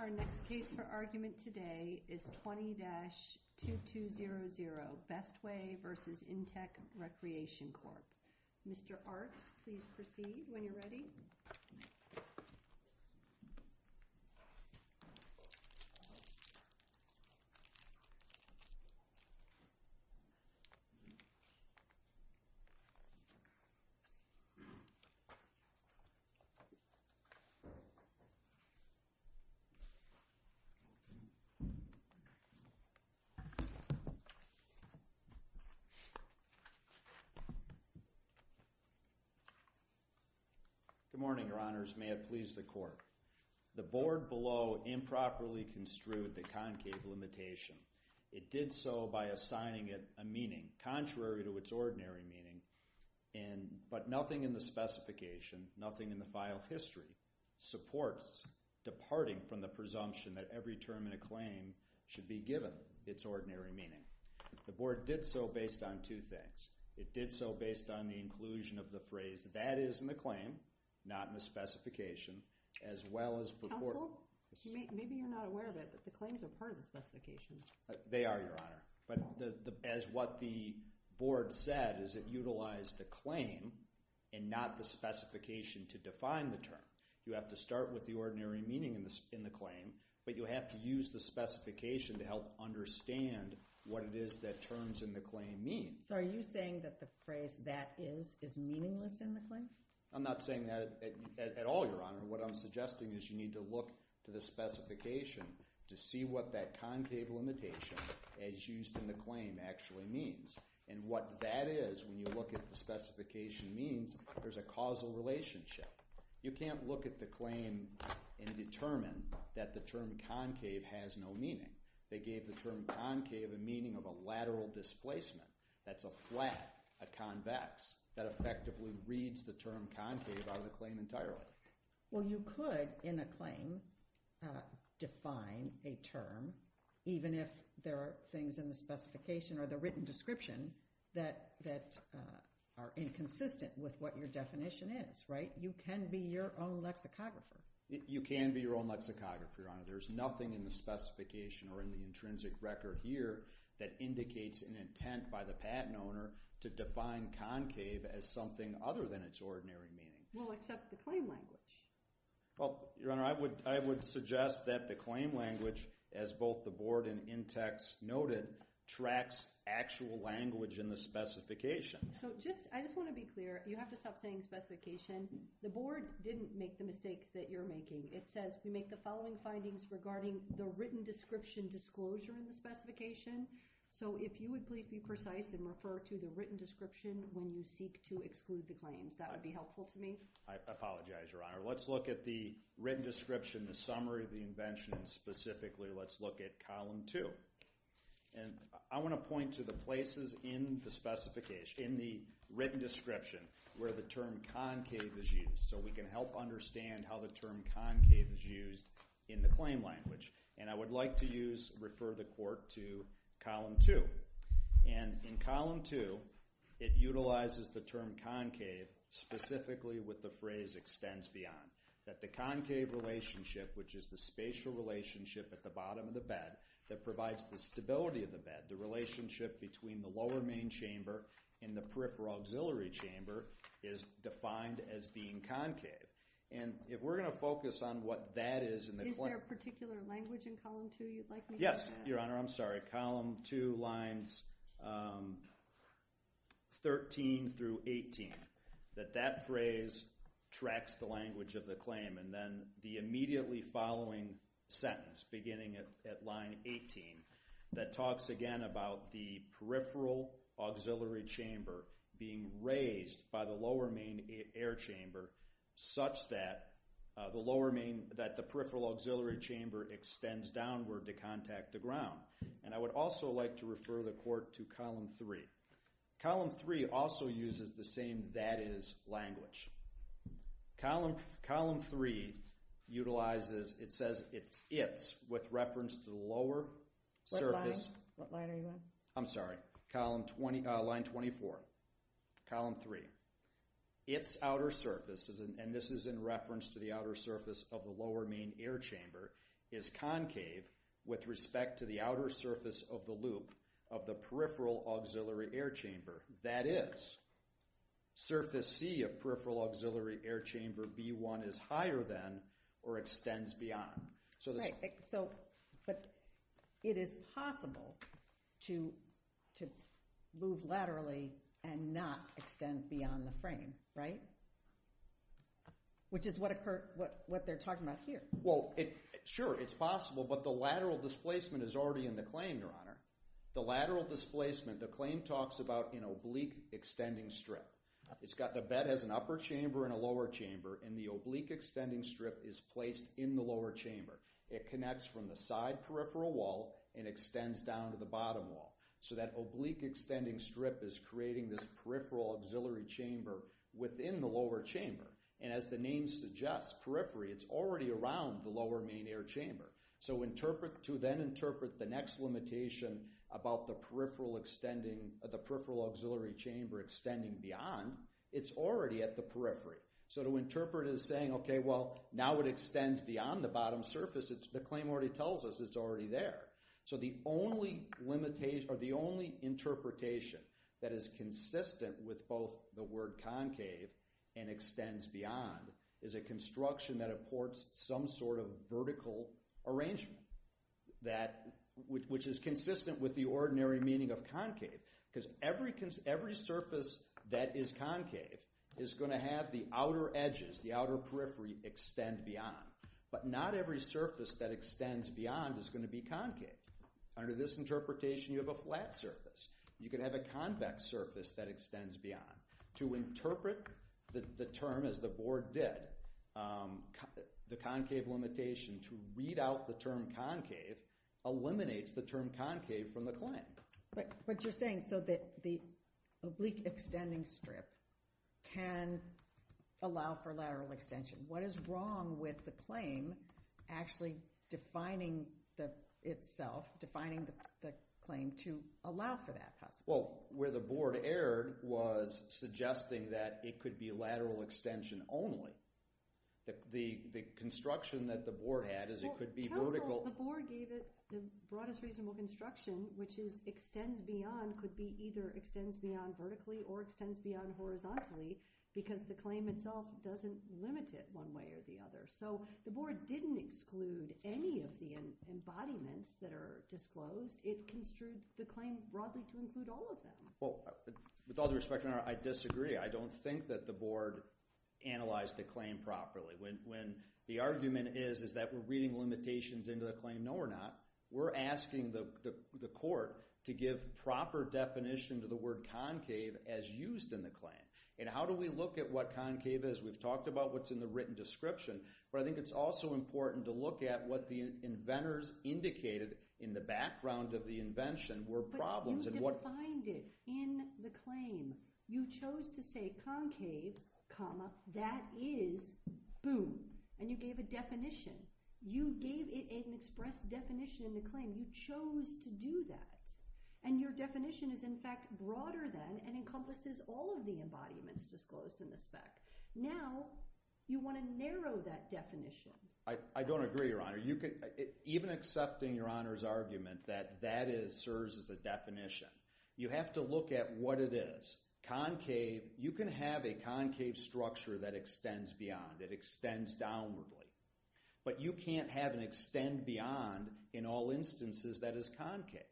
Our next case for argument today is 20-2200 Bestway v. Intex Recreation Corp. Mr. Artz, please proceed when you're ready. Good morning, Your Honors. May it please the Court. The board below improperly construed the concave limitation. It did so by assigning it a meaning contrary to its ordinary meaning, but nothing in the presumption that every term in a claim should be given its ordinary meaning. The board did so based on two things. It did so based on the inclusion of the phrase, that is in the claim, not in the specification, as well as the report. Counsel, maybe you're not aware of it, but the claims are part of the specification. They are, Your Honor, but as what the board said is it utilized the claim and not the specification to define the term. You have to start with the ordinary meaning in the claim, but you have to use the specification to help understand what it is that terms in the claim mean. So are you saying that the phrase, that is, is meaningless in the claim? I'm not saying that at all, Your Honor. What I'm suggesting is you need to look to the specification to see what that concave limitation, as used in the claim, actually means, and what that is, when you look at the specification means, there's a causal relationship. You can't look at the claim and determine that the term concave has no meaning. They gave the term concave a meaning of a lateral displacement. That's a flat, a convex, that effectively reads the term concave out of the claim entirely. Well, you could, in a claim, define a term, even if there are things in the specification or the written description that are inconsistent with what your definition is, right? You can be your own lexicographer. You can be your own lexicographer, Your Honor. There's nothing in the specification or in the intrinsic record here that indicates an intent by the patent owner to define concave as something other than its ordinary meaning. Well, except the claim language. Well, Your Honor, I would suggest that the claim language, as both the Board and Intex noted, tracks actual language in the specification. So, I just want to be clear. You have to stop saying specification. The Board didn't make the mistake that you're making. It says, we make the following findings regarding the written description disclosure in the specification. So, if you would please be precise and refer to the written description when you seek to exclude the claims. That would be helpful to me. I apologize, Your Honor. Let's look at the written description, the summary of the invention, and specifically, let's look at column two. And I want to point to the places in the written description where the term concave is used so we can help understand how the term concave is used in the claim language. And I would like to use, refer the Court to column two. And in column two, it utilizes the term concave specifically with the phrase extends beyond. That the concave relationship, which is the spatial relationship at the bottom of the bed that provides the stability of the bed, the relationship between the lower main chamber and the peripheral auxiliary chamber is defined as being concave. And if we're going to focus on what that is in the claim. Is there a particular language in column two you'd like me to use? Yes, Your Honor. I'm sorry. Column two, lines 13 through 18. That that phrase tracks the language of the claim. And then the immediately following sentence, beginning at line 18. That talks again about the peripheral auxiliary chamber being raised by the lower main air chamber such that the lower main, that the peripheral auxiliary chamber extends downward to contact the ground. And I would also like to refer the Court to column three. Column three also uses the same that is language. Column, column three utilizes, it says it's, it's with reference to the lower surface. What line? What line are you on? I'm sorry. Column 20, line 24. Column three. It's outer surface, and this is in reference to the outer surface of the lower main air chamber is concave with respect to the outer surface of the loop of the peripheral auxiliary air chamber. That is, surface C of peripheral auxiliary air chamber B1 is higher than or extends beyond. So this. Right. So, but it is possible to, to move laterally and not extend beyond the frame, right? Which is what occurred, what, what they're talking about here. Well, it, sure, it's possible, but the lateral displacement is already in the claim, Your Honor. The lateral displacement, the claim talks about an oblique extending strip. It's got, the bed has an upper chamber and a lower chamber, and the oblique extending strip is placed in the lower chamber. It connects from the side peripheral wall and extends down to the bottom wall. So that oblique extending strip is creating this peripheral auxiliary chamber within the lower chamber. And as the name suggests, periphery, it's already around the lower main air chamber. So interpret, to then interpret the next limitation about the peripheral extending, the peripheral auxiliary chamber extending beyond, it's already at the periphery. So to interpret it as saying, okay, well now it extends beyond the bottom surface, it's, the claim already tells us it's already there. So the only limitation, or the only interpretation that is consistent with both the word concave and extends beyond is a construction that affords some sort of vertical arrangement that, which is consistent with the ordinary meaning of concave, because every, every surface that is concave is going to have the outer edges, the outer periphery extend beyond. But not every surface that extends beyond is going to be concave. Under this interpretation, you have a flat surface. You could have a convex surface that extends beyond. To interpret the term as the board did, the concave limitation to read out the term concave eliminates the term concave from the claim. But, but you're saying so that the oblique extending strip can allow for lateral extension. What is wrong with the claim actually defining the itself, defining the claim to allow for that possibility? Well, where the board erred was suggesting that it could be lateral extension only. The construction that the board had is it could be vertical. Well, counsel, the board gave it the broadest reasonable construction, which is extends beyond, could be either extends beyond vertically or extends beyond horizontally, because the claim itself doesn't limit it one way or the other. So the board didn't exclude any of the embodiments that are disclosed. It construed the claim broadly to include all of them. Well, with all due respect, I disagree. I don't think that the board analyzed the claim properly. When the argument is that we're reading limitations into the claim, no we're not. We're asking the court to give proper definition to the word concave as used in the claim. And how do we look at what concave is? We've talked about what's in the written description, but I think it's also important to look at what the inventors indicated in the background of the invention were problems. But you defined it in the claim. You chose to say concave, comma, that is, boom, and you gave a definition. You gave it an express definition in the claim. You chose to do that. And your definition is, in fact, broader than and encompasses all of the embodiments disclosed in the spec. Now, you want to narrow that definition. I don't agree, Your Honor. Even accepting Your Honor's argument that that is serves as a definition, you have to look at what it is. You can have a concave structure that extends beyond, that extends downwardly. But you can't have an extend beyond, in all instances, that is concave.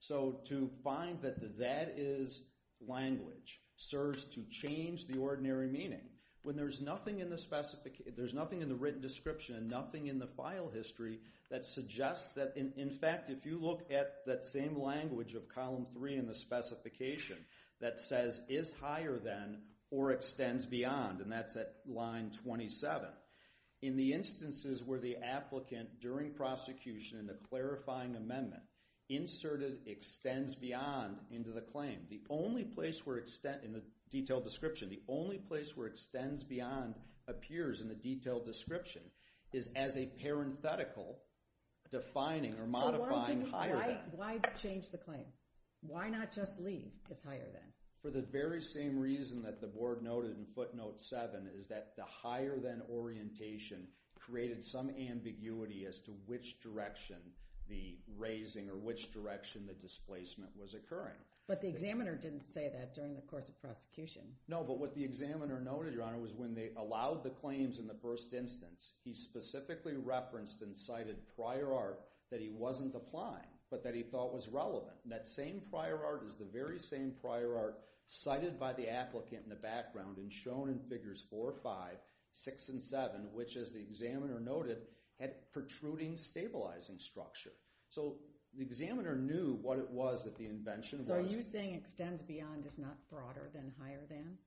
So to find that that is language serves to change the ordinary meaning. When there's nothing in the written description and nothing in the file history that suggests that, in fact, if you look at that same language of Column 3 in the specification that says is higher than or extends beyond, and that's at line 27, in the instances where the applicant during prosecution in the clarifying amendment inserted extends beyond into the claim, the detailed description, the only place where extends beyond appears in the detailed description is as a parenthetical defining or modifying higher than. Why change the claim? Why not just leave as higher than? For the very same reason that the Board noted in Footnote 7 is that the higher than orientation created some ambiguity as to which direction the raising or which direction the displacement was occurring. But the examiner didn't say that during the course of prosecution. No, but what the examiner noted, Your Honor, was when they allowed the claims in the first instance, he specifically referenced and cited prior art that he wasn't applying but that he thought was relevant. That same prior art is the very same prior art cited by the applicant in the background and shown in Figures 4, 5, 6, and 7, which, as the examiner noted, had protruding stabilizing structure. So the examiner knew what it was that the invention was. So are you saying extends beyond is not broader than higher than?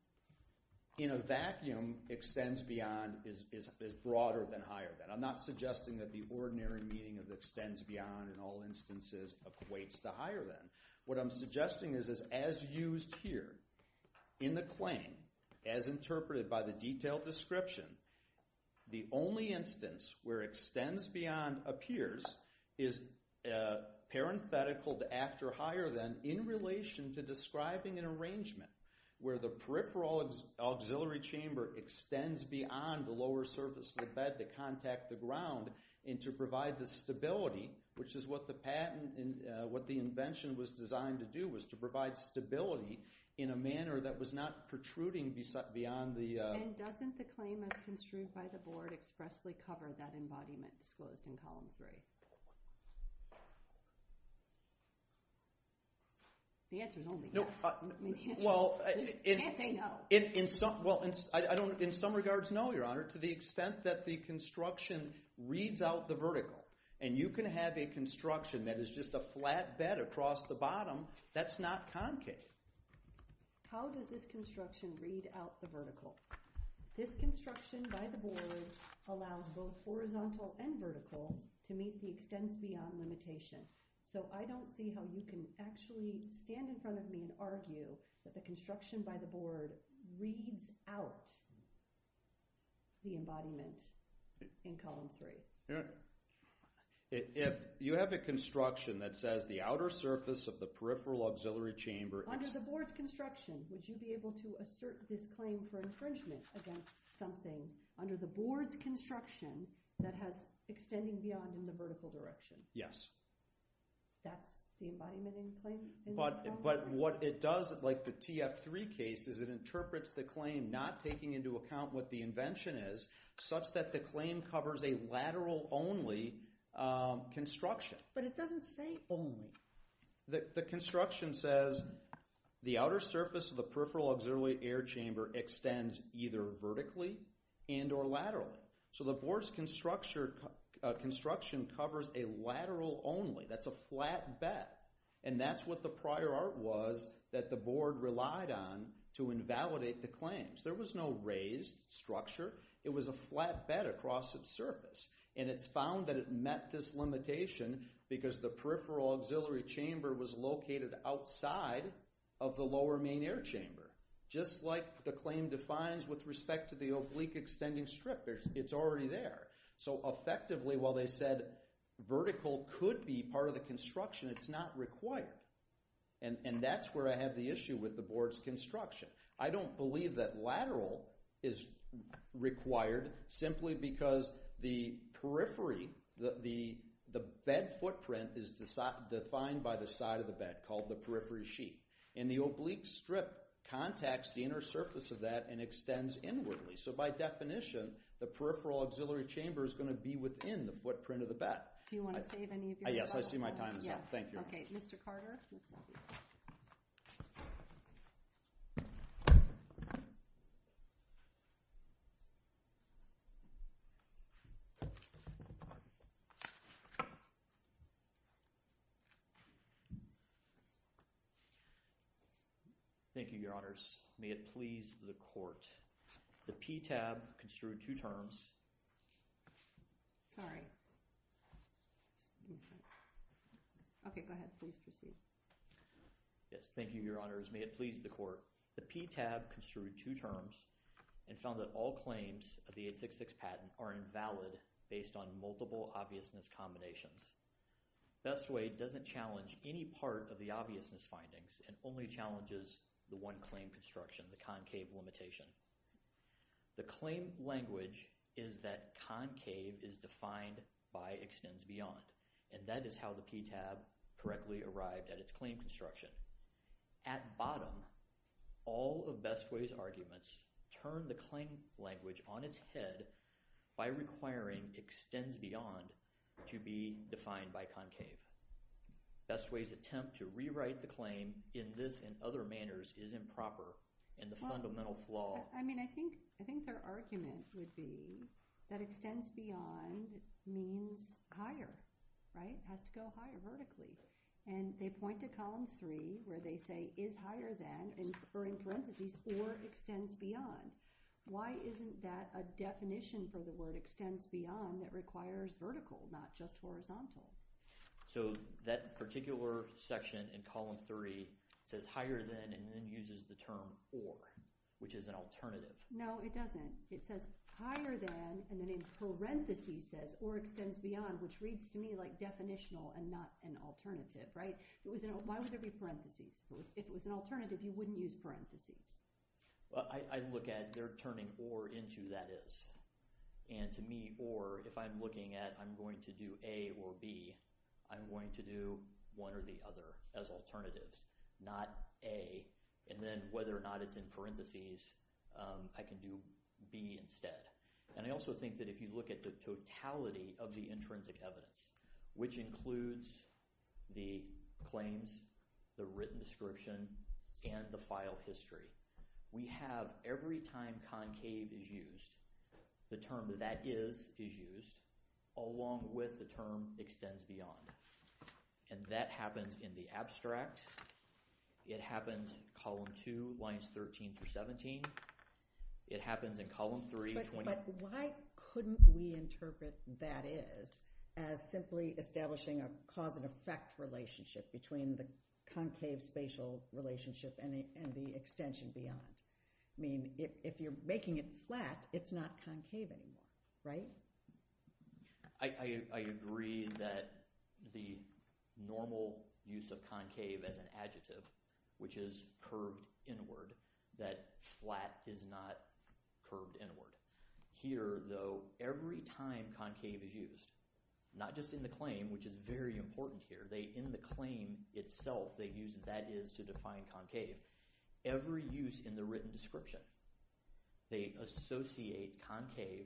In a vacuum, extends beyond is broader than higher than. I'm not suggesting that the ordinary meaning of extends beyond in all instances equates to higher than. What I'm suggesting is as used here in the claim, as interpreted by the detailed description, the only instance where extends beyond appears is parenthetical to after higher than in relation to describing an arrangement where the peripheral auxiliary chamber extends beyond the lower surface of the bed to contact the ground and to provide the stability, which is what the patent and what the invention was designed to do, was to provide stability in a manner that was not protruding beyond the... And doesn't the claim as construed by the board expressly cover that embodiment disclosed in column three? The answer is only yes. Well, in some regards, no, Your Honor, to the extent that the construction reads out the vertical, and you can have a construction that is just a flat bed across the bottom that's not concave. How does this construction read out the vertical? This construction by the board allows both horizontal and vertical to meet the extends beyond limitation. So I don't see how you can actually stand in front of me and argue that the construction by the board reads out the embodiment in column three. Your Honor, if you have a construction that says the outer surface of the peripheral auxiliary chamber... Under the board's construction, would you be able to assert this claim for infringement against something under the board's construction that has extending beyond in the vertical direction? Yes. That's the embodiment in claim in column three? But what it does, like the TF3 case, is it interprets the claim, not taking into account what the invention is, such that the claim covers a lateral only construction. But it doesn't say only. The construction says the outer surface of the peripheral auxiliary air chamber extends either vertically and or laterally. So the board's construction covers a lateral only. That's a flat bed, and that's what the prior art was that the board relied on to invalidate the claims. There was no raised structure. It was a flat bed across its surface, and it's found that it met this limitation because the peripheral auxiliary chamber was located outside of the lower main air chamber. Just like the claim defines with respect to the oblique extending strip, it's already there. So effectively, while they said vertical could be part of the construction, it's not required. And that's where I have the issue with the board's construction. I don't believe that lateral is required simply because the periphery, the bed footprint, is defined by the side of the bed, called the periphery sheet. And the oblique strip contacts the inner surface of that and extends inwardly. So by definition, the peripheral auxiliary chamber is going to be within the footprint of the bed. Do you want to save any of your time? Yes, I see my time is up. Thank you. Okay. Mr. Carter? Thank you, Your Honors. May it please the court. The PTAB construed two terms. Sorry. Okay, go ahead. Please proceed. May it please the court. The PTAB construed two terms and found that all claims of the 866 patent are invalid based on multiple obviousness combinations. Best Way doesn't challenge any part of the obviousness findings and only challenges the one claim construction, the concave limitation. The claim language is that concave is defined by extends beyond. And that is how the PTAB correctly arrived at its claim construction. At bottom, all of Best Way's arguments turn the claim language on its head by requiring extends beyond to be defined by concave. Best Way's attempt to rewrite the claim in this and other manners is improper in the fundamental flaw. I mean, I think their argument would be that extends beyond means higher, right? It has to go higher vertically. And they point to column three where they say is higher than, or in parentheses, or extends beyond. Why isn't that a definition for the word extends beyond that requires vertical, not just horizontal? So that particular section in column three says higher than and then uses the term or, which is an alternative. No, it doesn't. It says higher than and then in parentheses says or extends beyond, which reads to me definitional and not an alternative, right? Why would there be parentheses? If it was an alternative, you wouldn't use parentheses. I look at they're turning or into that is. And to me, or, if I'm looking at I'm going to do A or B, I'm going to do one or the other as alternatives, not A. And then whether or not it's in parentheses, I can do B instead. And I also think that if you look at the totality of the intrinsic evidence, which includes the claims, the written description, and the file history, we have every time concave is used, the term that is, is used along with the term extends beyond. And that happens in the abstract. It happens column two lines 13 through 17. It happens in column three. But why couldn't we interpret that is as simply establishing a cause and effect relationship between the concave spatial relationship and the extension beyond? I mean, if you're making it flat, it's not concave anymore, right? So, I agree that the normal use of concave as an adjective, which is curved inward, that flat is not curved inward. Here, though, every time concave is used, not just in the claim, which is very important here, they in the claim itself, they use that is to define concave. Every use in the written description, they associate concave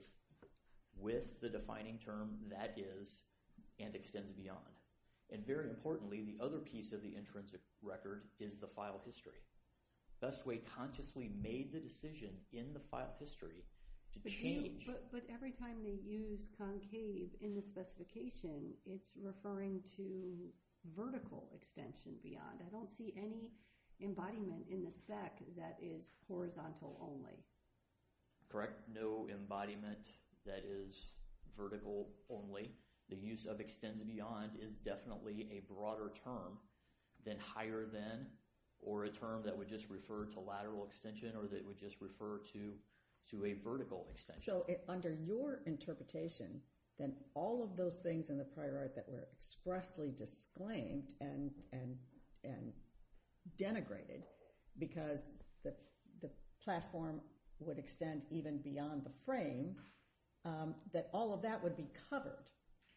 with the defining term that is and extends beyond. And very importantly, the other piece of the intrinsic record is the file history. Best way consciously made the decision in the file history to change. But every time they use concave in the specification, it's referring to vertical extension beyond. I don't see any embodiment in the spec that is horizontal only. Correct. No embodiment that is vertical only. The use of extends beyond is definitely a broader term than higher than or a term that would just refer to lateral extension or that would just refer to a vertical extension. So, under your interpretation, then all of those things in the prior art that were expressly disclaimed and denigrated because the platform would extend even beyond the frame, that all of that would be covered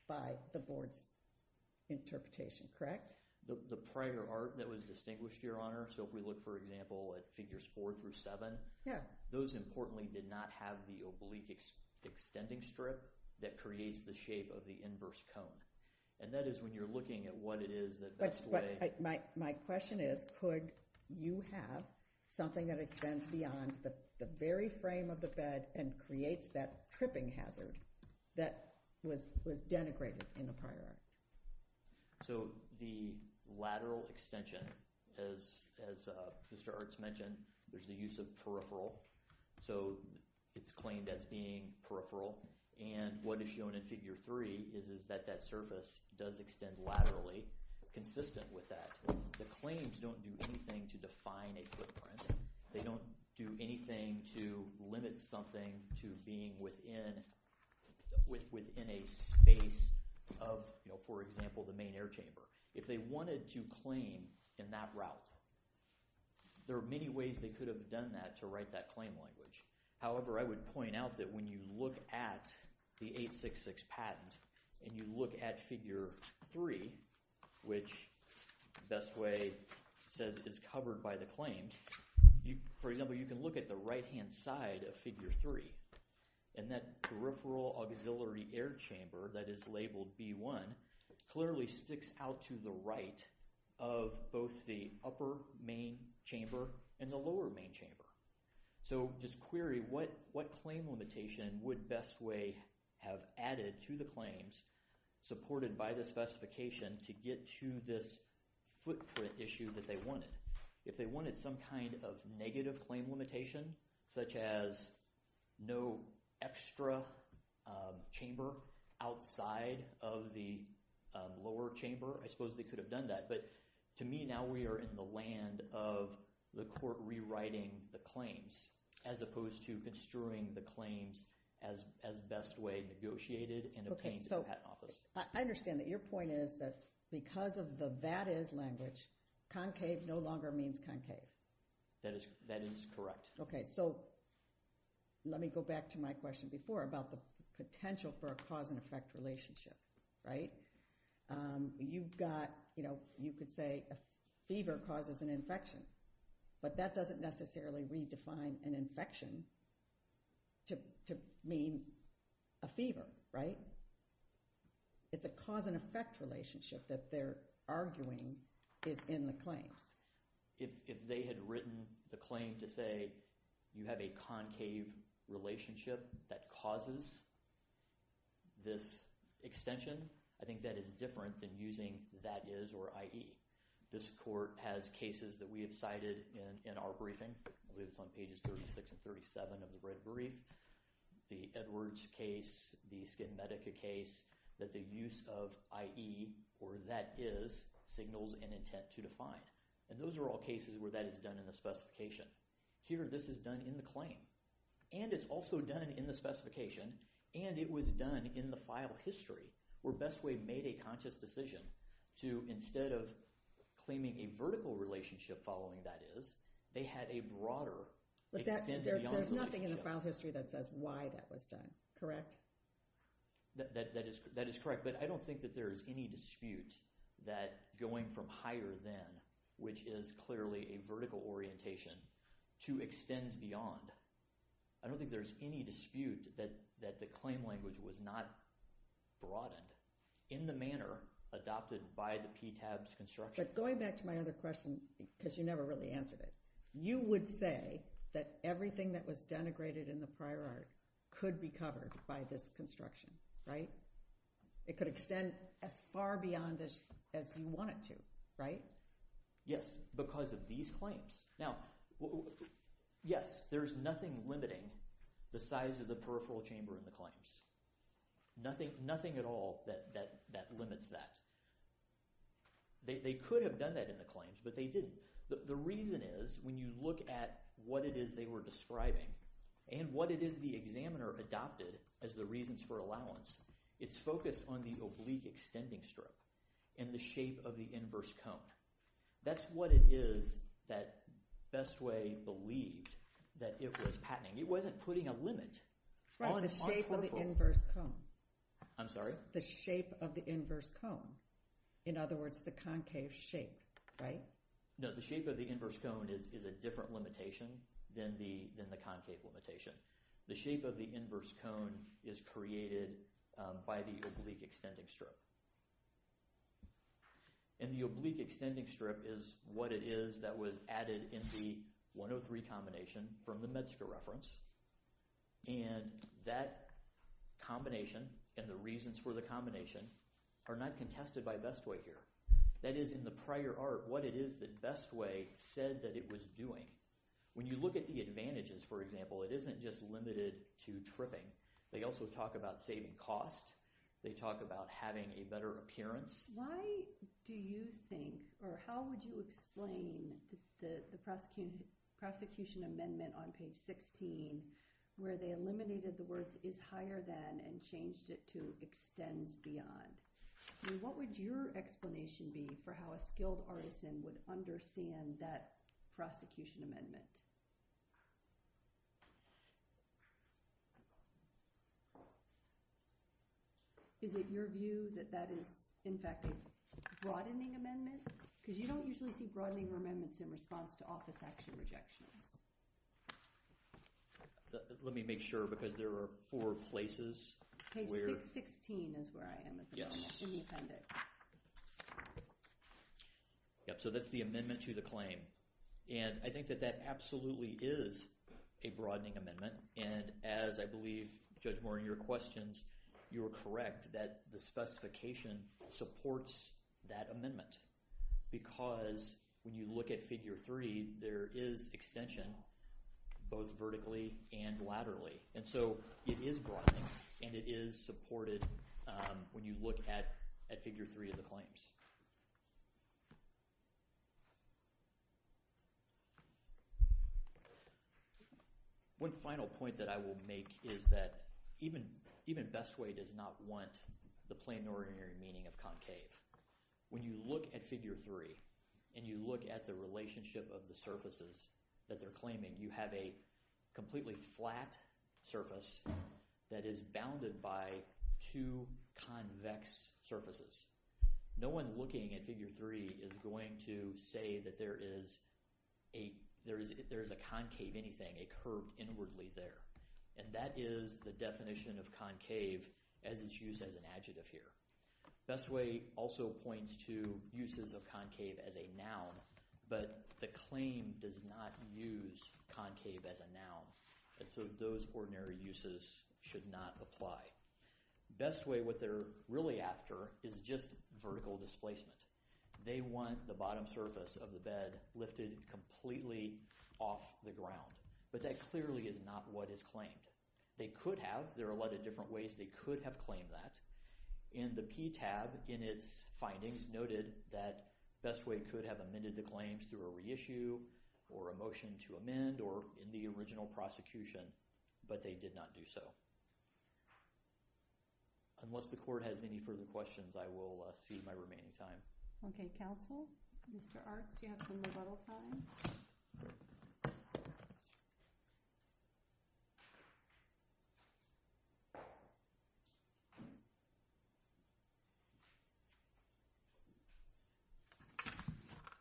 by the board's interpretation, correct? The prior art that was distinguished, Your Honor. So, if we look, for example, at figures four through seven, those importantly did not have the oblique extending strip that creates the shape of the inverse cone. And that is when you're looking at what it is that best way. My question is, could you have something that extends beyond the very frame of the bed and creates that tripping hazard that was denigrated in the prior art? So, the lateral extension, as Mr. Arts mentioned, there's the use of peripheral. So, it's claimed as being peripheral. And what is shown in figure three is that that surface does extend laterally consistent with that. The claims don't do anything to define a footprint. They don't do anything to limit something to being within a space of, you know, for example, the main air chamber. If they wanted to claim in that route, there are many ways they could have done that to write that claim language. However, I would point out that when you look at the 866 patent and you look at figure three, which best way says is covered by the claims, for example, you can look at the right-hand side of figure three. And that peripheral auxiliary air chamber that is labeled B1 clearly sticks out to the right of both the upper main chamber and the lower main chamber. So, just query what claim limitation would best way have added to the claims supported by the specification to get to this footprint issue that they wanted. If they wanted some kind of negative claim limitation, such as no extra chamber outside of the lower chamber, I suppose they could have done that. To me, now we are in the land of the court rewriting the claims as opposed to construing the claims as best way negotiated and obtained in the patent office. Okay, so I understand that your point is that because of the that is language, concave no longer means concave. That is correct. Okay, so let me go back to my question before about the potential for a cause and effect relationship, right? You've got, you know, you could say a fever causes an infection, but that doesn't necessarily redefine an infection to mean a fever, right? It's a cause and effect relationship that they're arguing is in the claims. If they had written the claim to say you have a concave relationship that causes this extension, I think that is different than using that is or IE. This court has cases that we have cited in our briefing. I believe it's on pages 36 and 37 of the red brief. The Edwards case, the SkinMedica case, that the use of IE or that is signals an intent to define. And those are all cases where that is done in the specification. Here, this is done in the claim. And it's also done in the specification. And it was done in the file history, where BestWay made a conscious decision to, instead of claiming a vertical relationship following that is, they had a broader extension beyond the relationship. There's nothing in the file history that says why that was done, correct? That is correct. But I don't think that there is any dispute that going from higher than, which is clearly a vertical orientation, to extends beyond. I don't think there's any dispute that the claim language was not broadened in the manner adopted by the PTAB's construction. But going back to my other question, because you never really answered it, you would say that everything that was denigrated in the prior art could be covered by this construction, right? It could extend as far beyond as you want it to, right? Yes, because of these claims. Now, yes, there's nothing limiting the size of the peripheral chamber in the claims. Nothing at all that limits that. They could have done that in the claims, but they didn't. The reason is, when you look at what it is they were describing, and what it is the examiner adopted as the reasons for allowance, it's focused on the oblique extending stroke and the shape of the inverse cone. That's what it is that Bestway believed that it was patenting. It wasn't putting a limit. Right, the shape of the inverse cone. I'm sorry? The shape of the inverse cone. In other words, the concave shape, right? No, the shape of the inverse cone is a different limitation than the concave limitation. The shape of the inverse cone is created by the oblique extending stroke. And the oblique extending stroke is what it is that was added in the 103 combination from the MedSCA reference. And that combination and the reasons for the combination are not contested by Bestway here. That is, in the prior art, what it is that Bestway said that it was doing. When you look at the advantages, for example, it isn't just limited to tripping. They also talk about saving cost. They talk about having a better appearance. Why do you think, or how would you explain the prosecution amendment on page 16 where they eliminated the words is higher than and changed it to extends beyond? What would your explanation be for how a skilled artisan would understand that Is it your view that that is, in fact, a broadening amendment? Because you don't usually see broadening amendments in response to office action rejections. Let me make sure because there are four places. Page 616 is where I am at the moment in the appendix. Yep, so that's the amendment to the claim. And I think that that absolutely is a broadening amendment. And as I believe, Judge Moore, in your questions, you were correct that the specification supports that amendment. Because when you look at figure three, there is extension both vertically and laterally. And so it is broadening and it is supported when you look at figure three of the claims. One final point that I will make is that even Best Way does not want the plain ordinary meaning of concave. When you look at figure three and you look at the relationship of the surfaces that they're claiming, you have a completely flat surface that is bounded by two convex surfaces. Looking at figure three is going to say that there is a concave anything, a curve inwardly there. And that is the definition of concave as its use as an adjective here. Best Way also points to uses of concave as a noun. But the claim does not use concave as a noun. And so those ordinary uses should not apply. Best Way, what they're really after is just vertical displacement. They want the bottom surface of the bed lifted completely off the ground. But that clearly is not what is claimed. They could have. There are a lot of different ways they could have claimed that. And the PTAB in its findings noted that Best Way could have amended the claims through a reissue or a motion to amend or in the original prosecution, but they did not do so. Unless the court has any further questions, I will see my remaining time. Okay, counsel. Mr. Artz, you have some rebuttal time.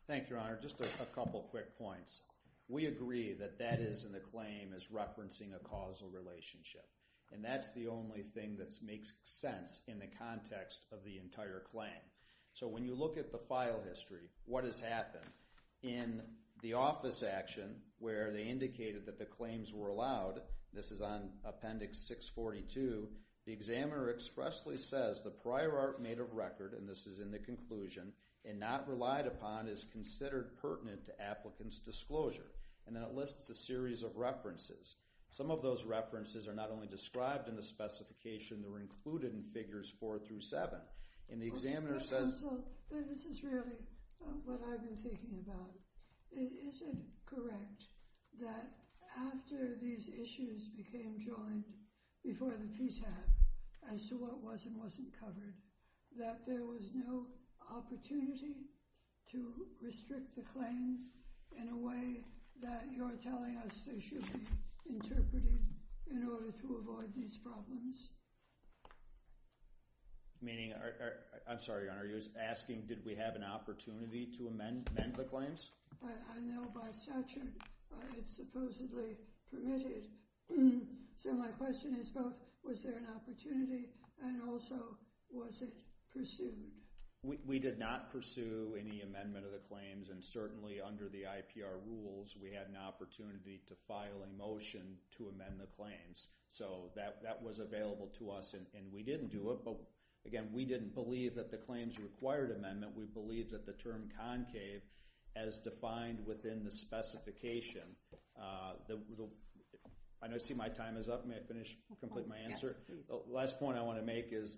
Thank you, Your Honor. Just a couple of quick points. We agree that that is in the claim is referencing a causal relationship. And that's the only thing that makes sense in the context of the entire claim. So when you look at the file history, what has happened? In the office action where they indicated that the claims were allowed, this is on Appendix 642, the examiner expressly says the prior art made of record, and this is in the conclusion, and not relied upon is considered pertinent to applicant's disclosure. And then it lists a series of references. Some of those references are not only described in the specification, they were included in Figures 4 through 7. And the examiner says... Counsel, this is really what I've been thinking about. It isn't correct that after these issues became joined before the PTAB, as to what was and wasn't covered, that there was no opportunity to restrict the claims in a way that you're telling us they should be interpreted in order to avoid these problems. Meaning... I'm sorry, Your Honor. He was asking, did we have an opportunity to amend the claims? I know by statute, it's supposedly permitted. So my question is both, was there an opportunity, and also, was it pursued? We did not pursue any amendment of the claims, and certainly under the IPR rules, we had an opportunity to file a motion to amend the claims. So that was available to us, and we didn't do it. But again, we didn't believe that the claims required amendment. We believe that the term concave, as defined within the specification... I see my time is up. May I finish, complete my answer? Last point I want to make is,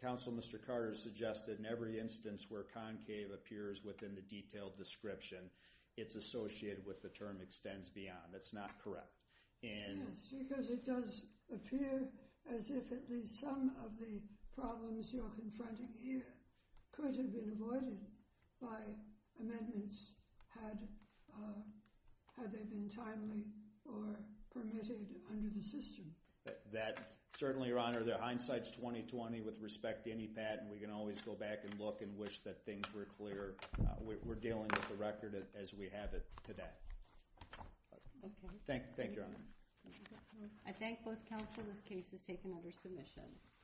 counsel, Mr. Carter suggested in every instance where concave appears within the detailed description, it's associated with the term extends beyond. That's not correct. Yes, because it does appear as if at least some of the problems you're confronting here could have been avoided by amendments had they been timely or permitted under the system. That certainly, Your Honor, the hindsight's 20-20 with respect to any patent. We can always go back and look and wish that things were clear. We're dealing with the record as we have it today. Thank you, Your Honor. I thank both counsel. This case is taken under submission.